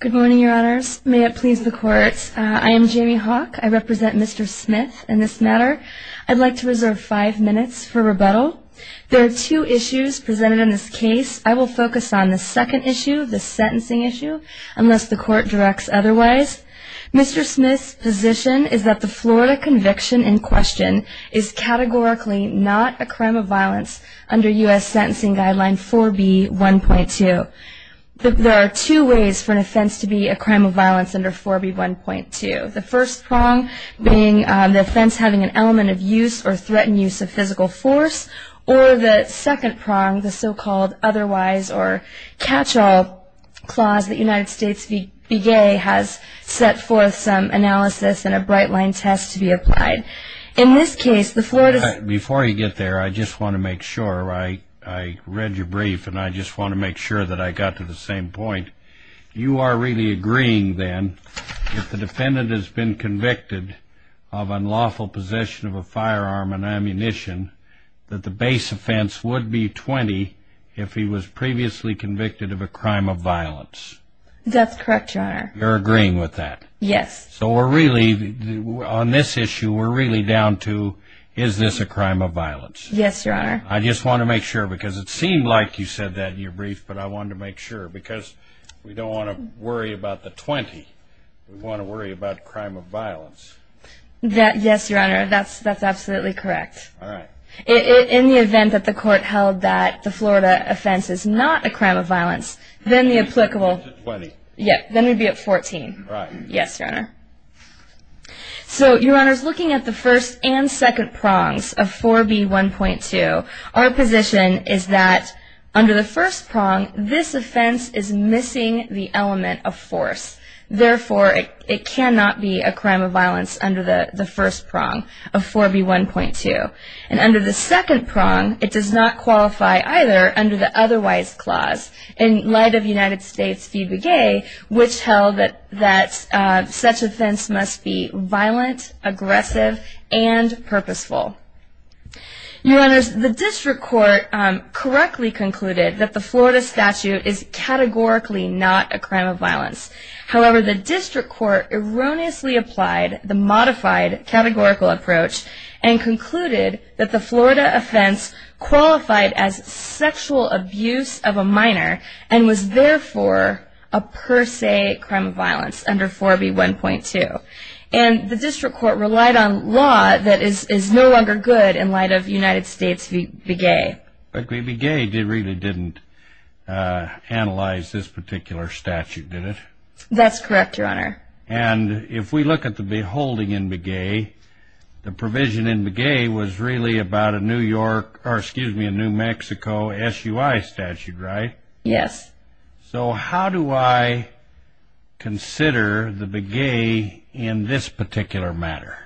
Good morning, your honors. May it please the court. I am Jamie Hawk. I represent Mr. Smith in this matter. I'd like to reserve five minutes for rebuttal. There are two issues presented in this case. I will focus on the second issue, the sentencing issue, unless the court directs otherwise. Mr. Smith's position is that the Florida conviction in question is categorically not a crime of violence under U.S. Sentencing Guideline 4B.1.2. There are two ways for an offense to be a crime of violence under 4B.1.2. The first prong being the offense having an element of use or threatened use of physical force. Or the second prong, the so-called otherwise or catch-all clause that United States VA has set forth some analysis and a bright-line test to be applied. In this case, the Florida... Before you get there, I just want to make sure. I read your brief, and I just want to make sure that I got to the same point. You are really agreeing, then, if the defendant has been convicted of unlawful possession of a firearm and ammunition, that the base offense would be 20 if he was previously convicted of a crime of violence. That's correct, your honor. You're agreeing with that? Yes. So we're really, on this issue, we're really down to, is this a crime of violence? Yes, your honor. I just want to make sure, because it seemed like you said that in your brief, but I wanted to make sure, because we don't want to worry about the 20. We want to worry about crime of violence. Yes, your honor, that's absolutely correct. All right. In the event that the court held that the Florida offense is not a crime of violence, then the applicable... 20. Yeah, then we'd be at 14. Right. Yes, your honor. So, your honors, looking at the first and second prongs of 4B1.2, our position is that under the first prong, this offense is missing the element of force. Therefore, it cannot be a crime of violence under the first prong of 4B1.2. And under the second prong, it does not qualify either under the otherwise clause. In light of United States v. Begay, which held that such offense must be violent, aggressive, and purposeful. Your honors, the district court correctly concluded that the Florida statute is categorically not a crime of violence. However, the district court erroneously applied the modified categorical approach and concluded that the Florida offense qualified as sexual abuse of a minor and was therefore a per se crime of violence under 4B1.2. And the district court relied on law that is no longer good in light of United States v. Begay. But v. Begay really didn't analyze this particular statute, did it? That's correct, your honor. And if we look at the holding in Begay, the provision in Begay was really about a New York, or excuse me, a New Mexico SUI statute, right? Yes. So how do I consider the Begay in this particular matter?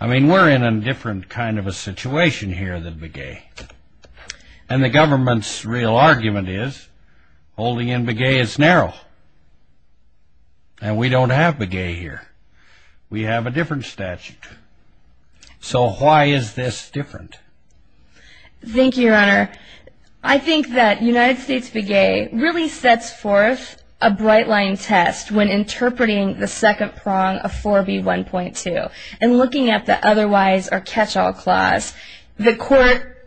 I mean, we're in a different kind of a situation here than Begay. And the government's real argument is holding in Begay is narrow. And we don't have Begay here. We have a different statute. So why is this different? Thank you, your honor. I think that United States Begay really sets forth a bright-line test when interpreting the second prong of 4B1.2 and looking at the otherwise or catch-all clause. The court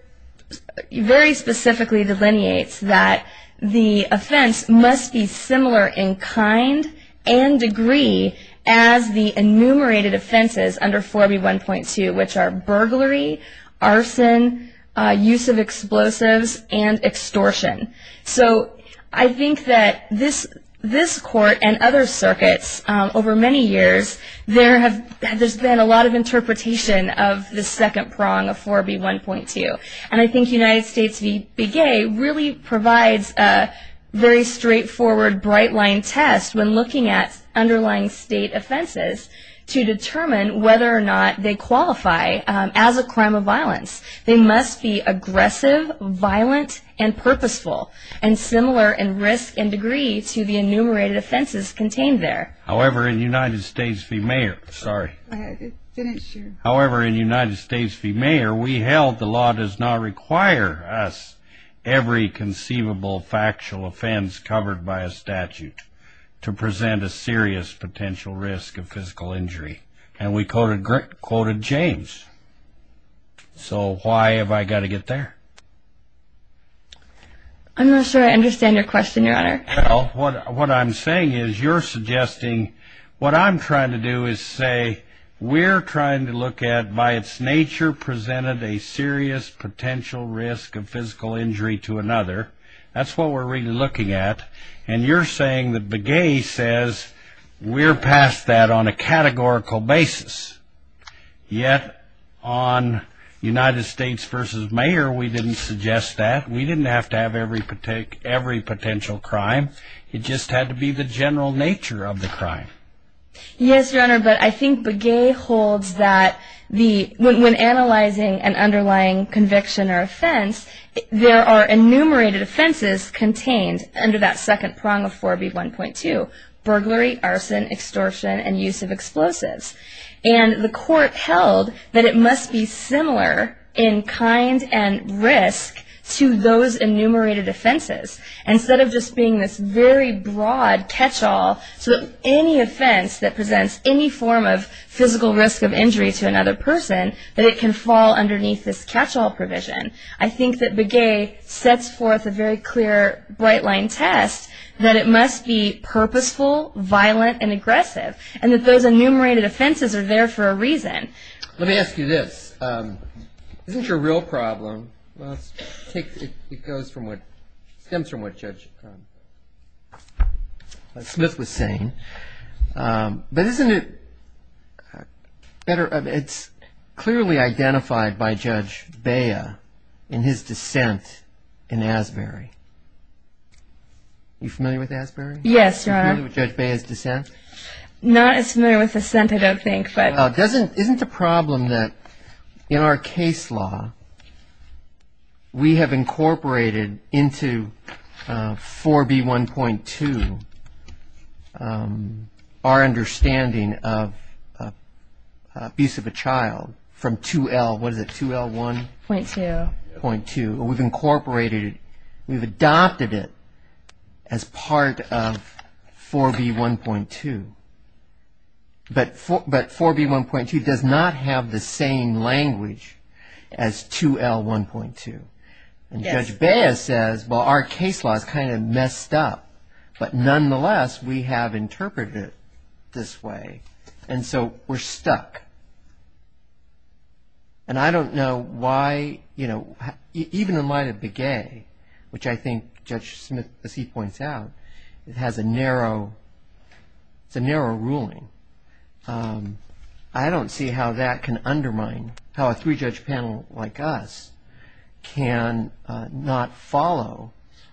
very specifically delineates that the offense must be similar in kind and degree as the enumerated offenses under 4B1.2, which are burglary, arson, use of explosives, and extortion. So I think that this court and other circuits over many years, there's been a lot of interpretation of the second prong of 4B1.2. And I think United States Begay really provides a very straightforward, bright-line test when looking at underlying state offenses to determine whether or not they qualify as a crime of violence. They must be aggressive, violent, and purposeful, and similar in risk and degree to the enumerated offenses contained there. However, in United States v. Mayor, we held the law does not require us every conceivable factual offense covered by a statute to present a serious potential risk of physical injury. And we quoted James. So why have I got to get there? I'm not sure I understand your question, your honor. Well, what I'm saying is you're suggesting what I'm trying to do is say we're trying to look at by its nature presented a serious potential risk of physical injury to another. That's what we're really looking at. And you're saying that Begay says we're past that on a categorical basis. Yet on United States v. Mayor, we didn't suggest that. We didn't have to have every potential crime. It just had to be the general nature of the crime. Yes, your honor, but I think Begay holds that when analyzing an underlying conviction or offense, there are enumerated offenses contained under that second prong of 4B1.2, burglary, arson, extortion, and use of explosives. And the court held that it must be similar in kind and risk to those enumerated offenses. Instead of just being this very broad catch-all, so that any offense that presents any form of physical risk of injury to another person, that it can fall underneath this catch-all provision. I think that Begay sets forth a very clear bright-line test that it must be purposeful, violent, and aggressive, and that those enumerated offenses are there for a reason. Let me ask you this. Isn't your real problem, it stems from what Judge Smith was saying. But isn't it better, it's clearly identified by Judge Bea in his dissent in Asbury. Are you familiar with Asbury? Yes, your honor. Are you familiar with Judge Bea's dissent? Not as familiar with his dissent, I don't think. Isn't the problem that in our case law, we have incorporated into 4B1.2, our understanding of abuse of a child from 2L, what is it, 2L1? .2. We've incorporated, we've adopted it as part of 4B1.2. But 4B1.2 does not have the same language as 2L1.2. And Judge Bea says, well, our case law is kind of messed up. But nonetheless, we have interpreted it this way. And so we're stuck. And I don't know why, you know, even in light of Begay, which I think Judge Smith, as he points out, has a narrow ruling. I don't see how that can undermine how a three-judge panel like us can not follow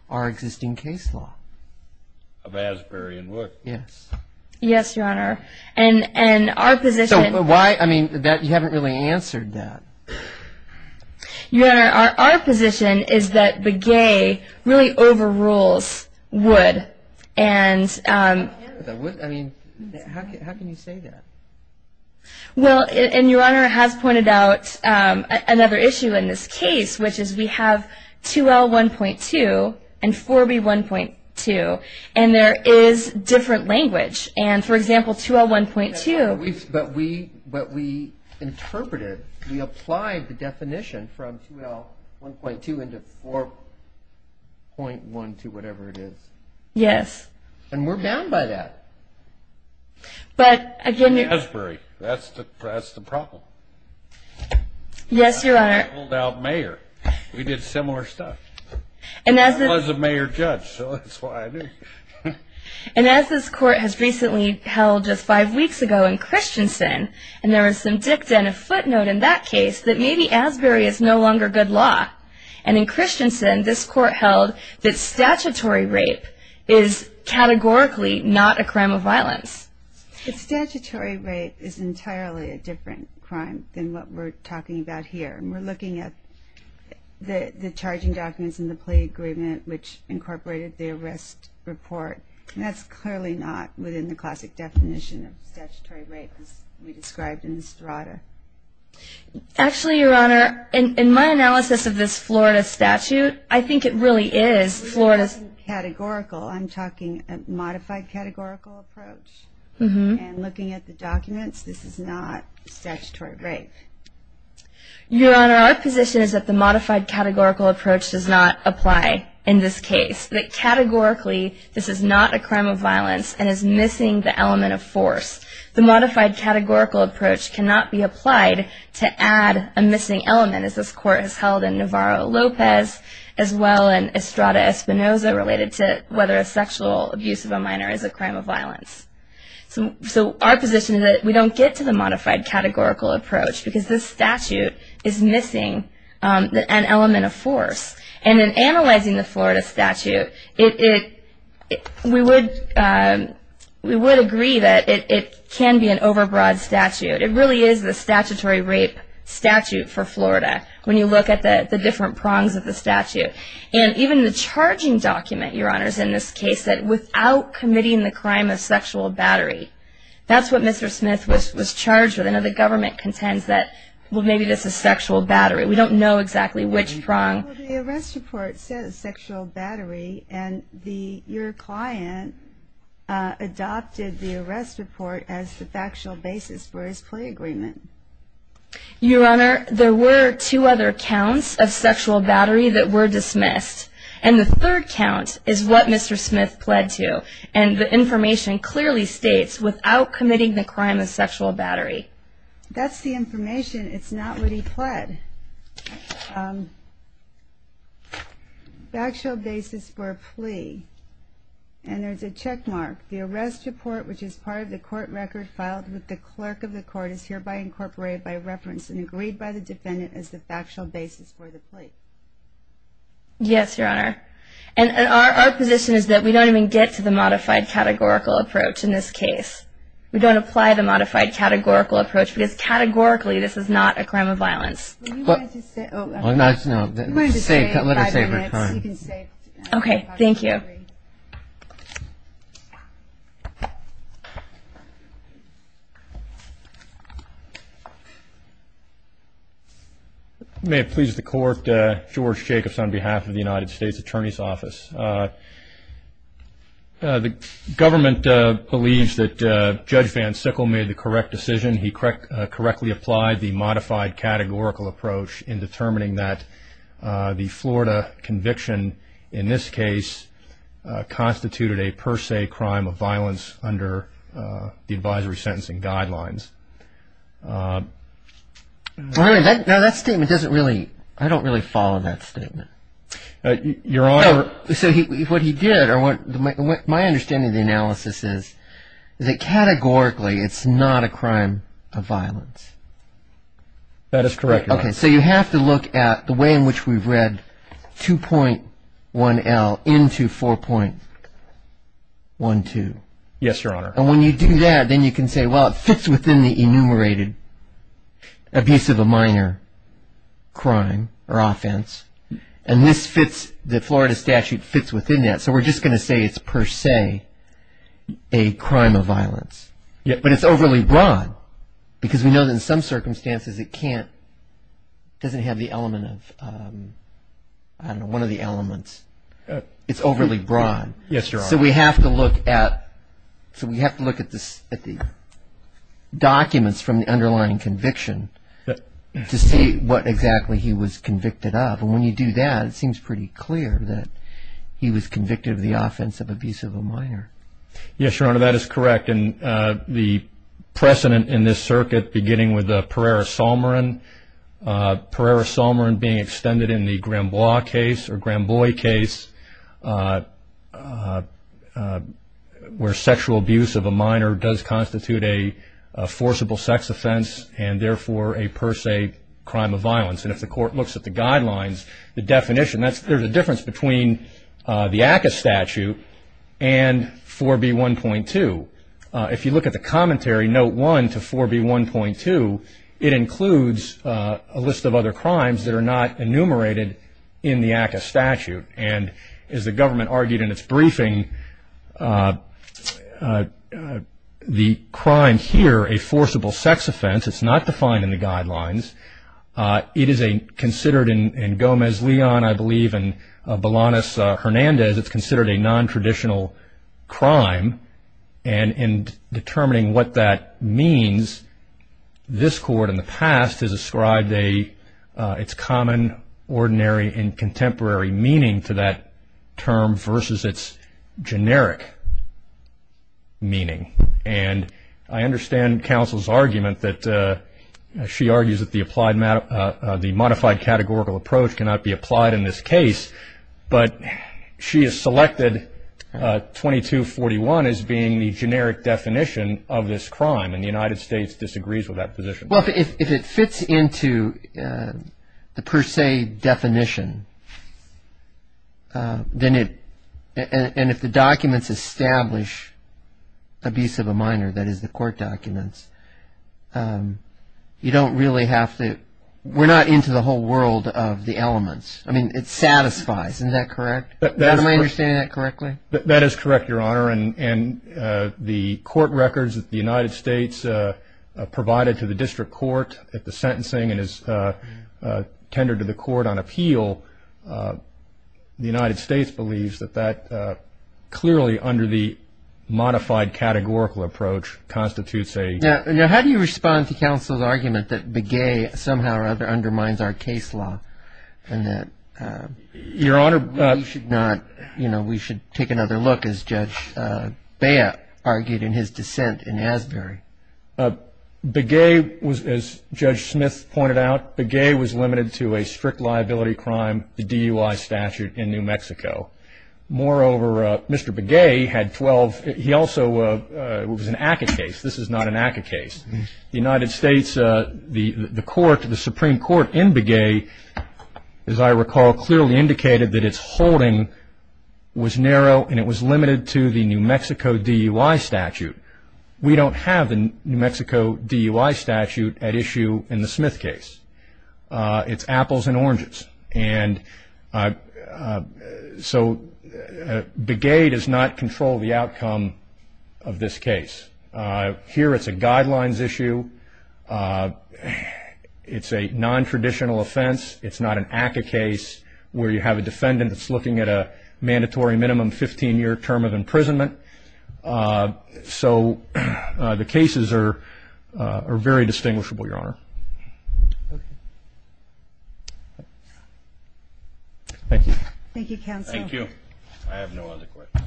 our existing case law. Of Asbury and Wood. Yes. Yes, your honor. So why, I mean, you haven't really answered that. Your honor, our position is that Begay really overrules Wood. How can you say that? Well, and your honor has pointed out another issue in this case, which is we have 2L1.2 and 4B1.2. And there is different language. And, for example, 2L1.2. But we interpreted, we applied the definition from 2L1.2 into 4.1 to whatever it is. Yes. And we're bound by that. Asbury, that's the problem. Yes, your honor. We pulled out mayor. We did similar stuff. I was a mayor judge, so that's why I knew. And as this court has recently held just five weeks ago in Christensen, and there was some dicta and a footnote in that case, that maybe Asbury is no longer good law. And in Christensen, this court held that statutory rape is categorically not a crime of violence. Statutory rape is entirely a different crime than what we're talking about here. And we're looking at the charging documents and the plea agreement, which incorporated the arrest report. And that's clearly not within the classic definition of statutory rape as we described in the strata. Actually, your honor, in my analysis of this Florida statute, I think it really is Florida's. We're talking categorical. I'm talking a modified categorical approach. And looking at the documents, this is not statutory rape. Your honor, our position is that the modified categorical approach does not apply in this case, that categorically this is not a crime of violence and is missing the element of force. The modified categorical approach cannot be applied to add a missing element, as this court has held in Navarro-Lopez, as well in Estrada-Espinoza, related to whether a sexual abuse of a minor is a crime of violence. So our position is that we don't get to the modified categorical approach, because this statute is missing an element of force. And in analyzing the Florida statute, we would agree that it can be an overbroad statute. It really is the statutory rape statute for Florida, when you look at the different prongs of the statute. And even the charging document, your honors, in this case, that without committing the crime of sexual battery, that's what Mr. Smith was charged with. I know the government contends that, well, maybe this is sexual battery. We don't know exactly which prong. Well, the arrest report says sexual battery, and your client adopted the arrest report as the factual basis for his plea agreement. Your honor, there were two other counts of sexual battery that were dismissed. And the third count is what Mr. Smith pled to. And the information clearly states, without committing the crime of sexual battery. That's the information. It's not what he pled. Factual basis for a plea. And there's a check mark. The arrest report, which is part of the court record filed with the clerk of the court, is hereby incorporated by reference and agreed by the defendant as the factual basis for the plea. Yes, your honor. And our position is that we don't even get to the modified categorical approach in this case. We don't apply the modified categorical approach, because categorically, this is not a crime of violence. No, let her save her time. Okay, thank you. May it please the court. George Jacobs on behalf of the United States Attorney's Office. The government believes that Judge Van Sickle made the correct decision. He correctly applied the modified categorical approach in determining that the Florida conviction, in this case, constituted a per se crime of violence under the advisory sentencing guidelines. Now that statement doesn't really, I don't really follow that statement. Your honor. So what he did, or my understanding of the analysis is that categorically, it's not a crime of violence. That is correct, your honor. Okay, so you have to look at the way in which we've read 2.1L into 4.12. Yes, your honor. And when you do that, then you can say, well, it fits within the enumerated abuse of a minor crime or offense. And this fits, the Florida statute fits within that. So we're just going to say it's per se a crime of violence. But it's overly broad because we know that in some circumstances it can't, it doesn't have the element of, I don't know, one of the elements. It's overly broad. Yes, your honor. So we have to look at the documents from the underlying conviction to see what exactly he was convicted of. And when you do that, it seems pretty clear that he was convicted of the offense of abuse of a minor. Yes, your honor, that is correct. And the precedent in this circuit, beginning with Pereira-Solmarin, Pereira-Solmarin being extended in the Granbois case, where sexual abuse of a minor does constitute a forcible sex offense and, therefore, a per se crime of violence. And if the court looks at the guidelines, the definition, there's a difference between the ACCA statute and 4B1.2. If you look at the commentary, note 1 to 4B1.2, it includes a list of other crimes that are not enumerated in the ACCA statute. And as the government argued in its briefing, the crime here, a forcible sex offense, it's not defined in the guidelines. It is considered in Gomez-Leon, I believe, and Bolanos-Hernandez, it's considered a nontraditional crime. And in determining what that means, this court in the past has ascribed its common, ordinary, and contemporary meaning to that term versus its generic meaning. And I understand counsel's argument that she argues that the modified categorical approach cannot be applied in this case, but she has selected 2241 as being the generic definition of this crime, and the United States disagrees with that position. Well, if it fits into the per se definition, then it, and if the documents establish abuse of a minor, that is the court documents, you don't really have to, we're not into the whole world of the elements. I mean, it satisfies, isn't that correct? Am I understanding that correctly? That is correct, Your Honor. And the court records that the United States provided to the district court at the sentencing and is tendered to the court on appeal, the United States believes that that clearly under the modified categorical approach constitutes a... Now, how do you respond to counsel's argument that Begay somehow or other undermines our case law and that... Your Honor... Beya argued in his dissent in Asbury. Begay was, as Judge Smith pointed out, Begay was limited to a strict liability crime, the DUI statute in New Mexico. Moreover, Mr. Begay had 12, he also, it was an ACCA case. This is not an ACCA case. The United States, the court, the Supreme Court in Begay, as I recall, clearly indicated that its holding was narrow and it was limited to the New Mexico DUI statute. We don't have the New Mexico DUI statute at issue in the Smith case. It's apples and oranges. And so Begay does not control the outcome of this case. Here it's a guidelines issue. It's a nontraditional offense. It's not an ACCA case where you have a defendant that's looking at a mandatory minimum 15-year term of imprisonment. So the cases are very distinguishable, Your Honor. Thank you. Thank you, counsel. Thank you. I have no other questions.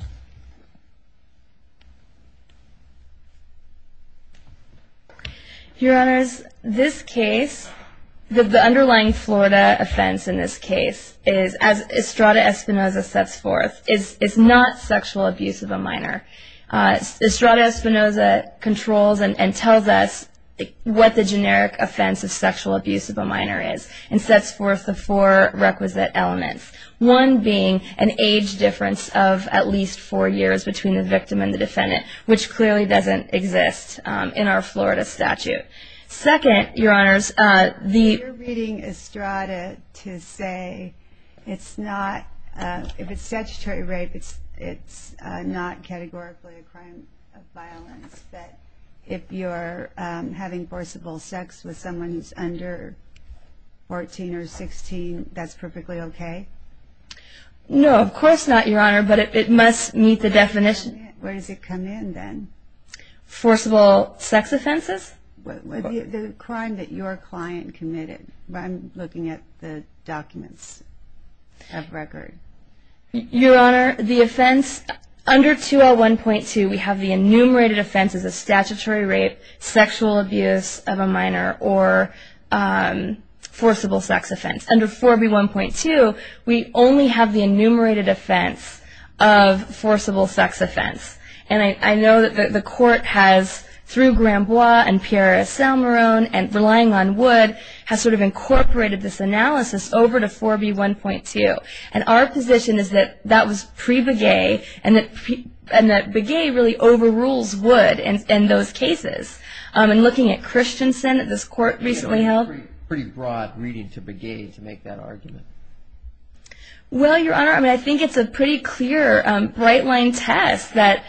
Your Honors, this case, the underlying Florida offense in this case is, as Estrada Espinoza sets forth, is not sexual abuse of a minor. Estrada Espinoza controls and tells us what the generic offense of sexual abuse of a minor is and sets forth the four requisite elements, one being an age difference of at least four years between the victim and the defendant, which clearly doesn't exist in our Florida statute. Second, Your Honors, the- You're reading Estrada to say it's not, if it's statutory rape, it's not categorically a crime of violence, but if you're having forcible sex with someone who's under 14 or 16, that's perfectly okay? No, of course not, Your Honor, but it must meet the definition. Where does it come in, then? Forcible sex offenses. The crime that your client committed. I'm looking at the documents of record. Your Honor, the offense, under 201.2, we have the enumerated offense as a statutory rape, sexual abuse of a minor, or forcible sex offense. Under 4B1.2, we only have the enumerated offense of forcible sex offense. And I know that the court has, through Granbois and Piera Salmarone and relying on Wood, has sort of incorporated this analysis over to 4B1.2. And our position is that that was pre-Begay, and that Begay really overrules Wood in those cases. I'm looking at Christensen that this court recently held. Pretty broad reading to Begay to make that argument. Well, Your Honor, I think it's a pretty clear, bright-line test that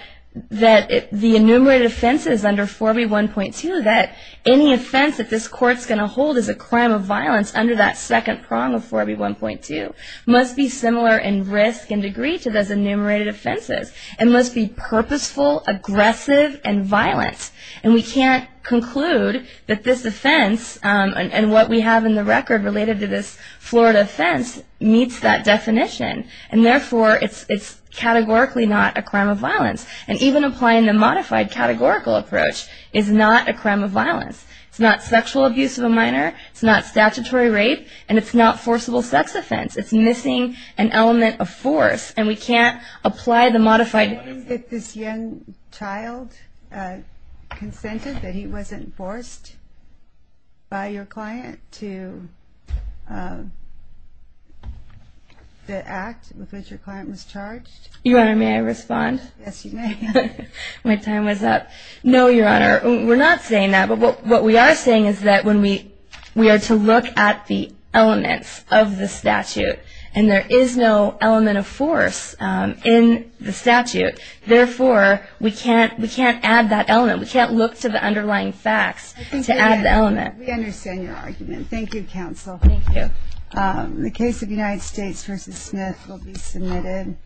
the enumerated offenses under 4B1.2, that any offense that this court's going to hold as a crime of violence under that second prong of 4B1.2 must be similar in risk and degree to those enumerated offenses. It must be purposeful, aggressive, and violent. And we can't conclude that this offense, and what we have in the record related to this Florida offense, meets that definition. And therefore, it's categorically not a crime of violence. And even applying the modified categorical approach is not a crime of violence. It's not sexual abuse of a minor. It's not statutory rape. And it's not forcible sex offense. It's missing an element of force. And we can't apply the modified... If this young child consented that he wasn't forced by your client to act with which your client was charged... Your Honor, may I respond? Yes, you may. My time was up. No, Your Honor, we're not saying that. But what we are saying is that we are to look at the elements of the statute. And there is no element of force in the statute. Therefore, we can't add that element. We can't look to the underlying facts to add the element. We understand your argument. Thank you, counsel. Thank you. The case of United States v. Smith will be submitted.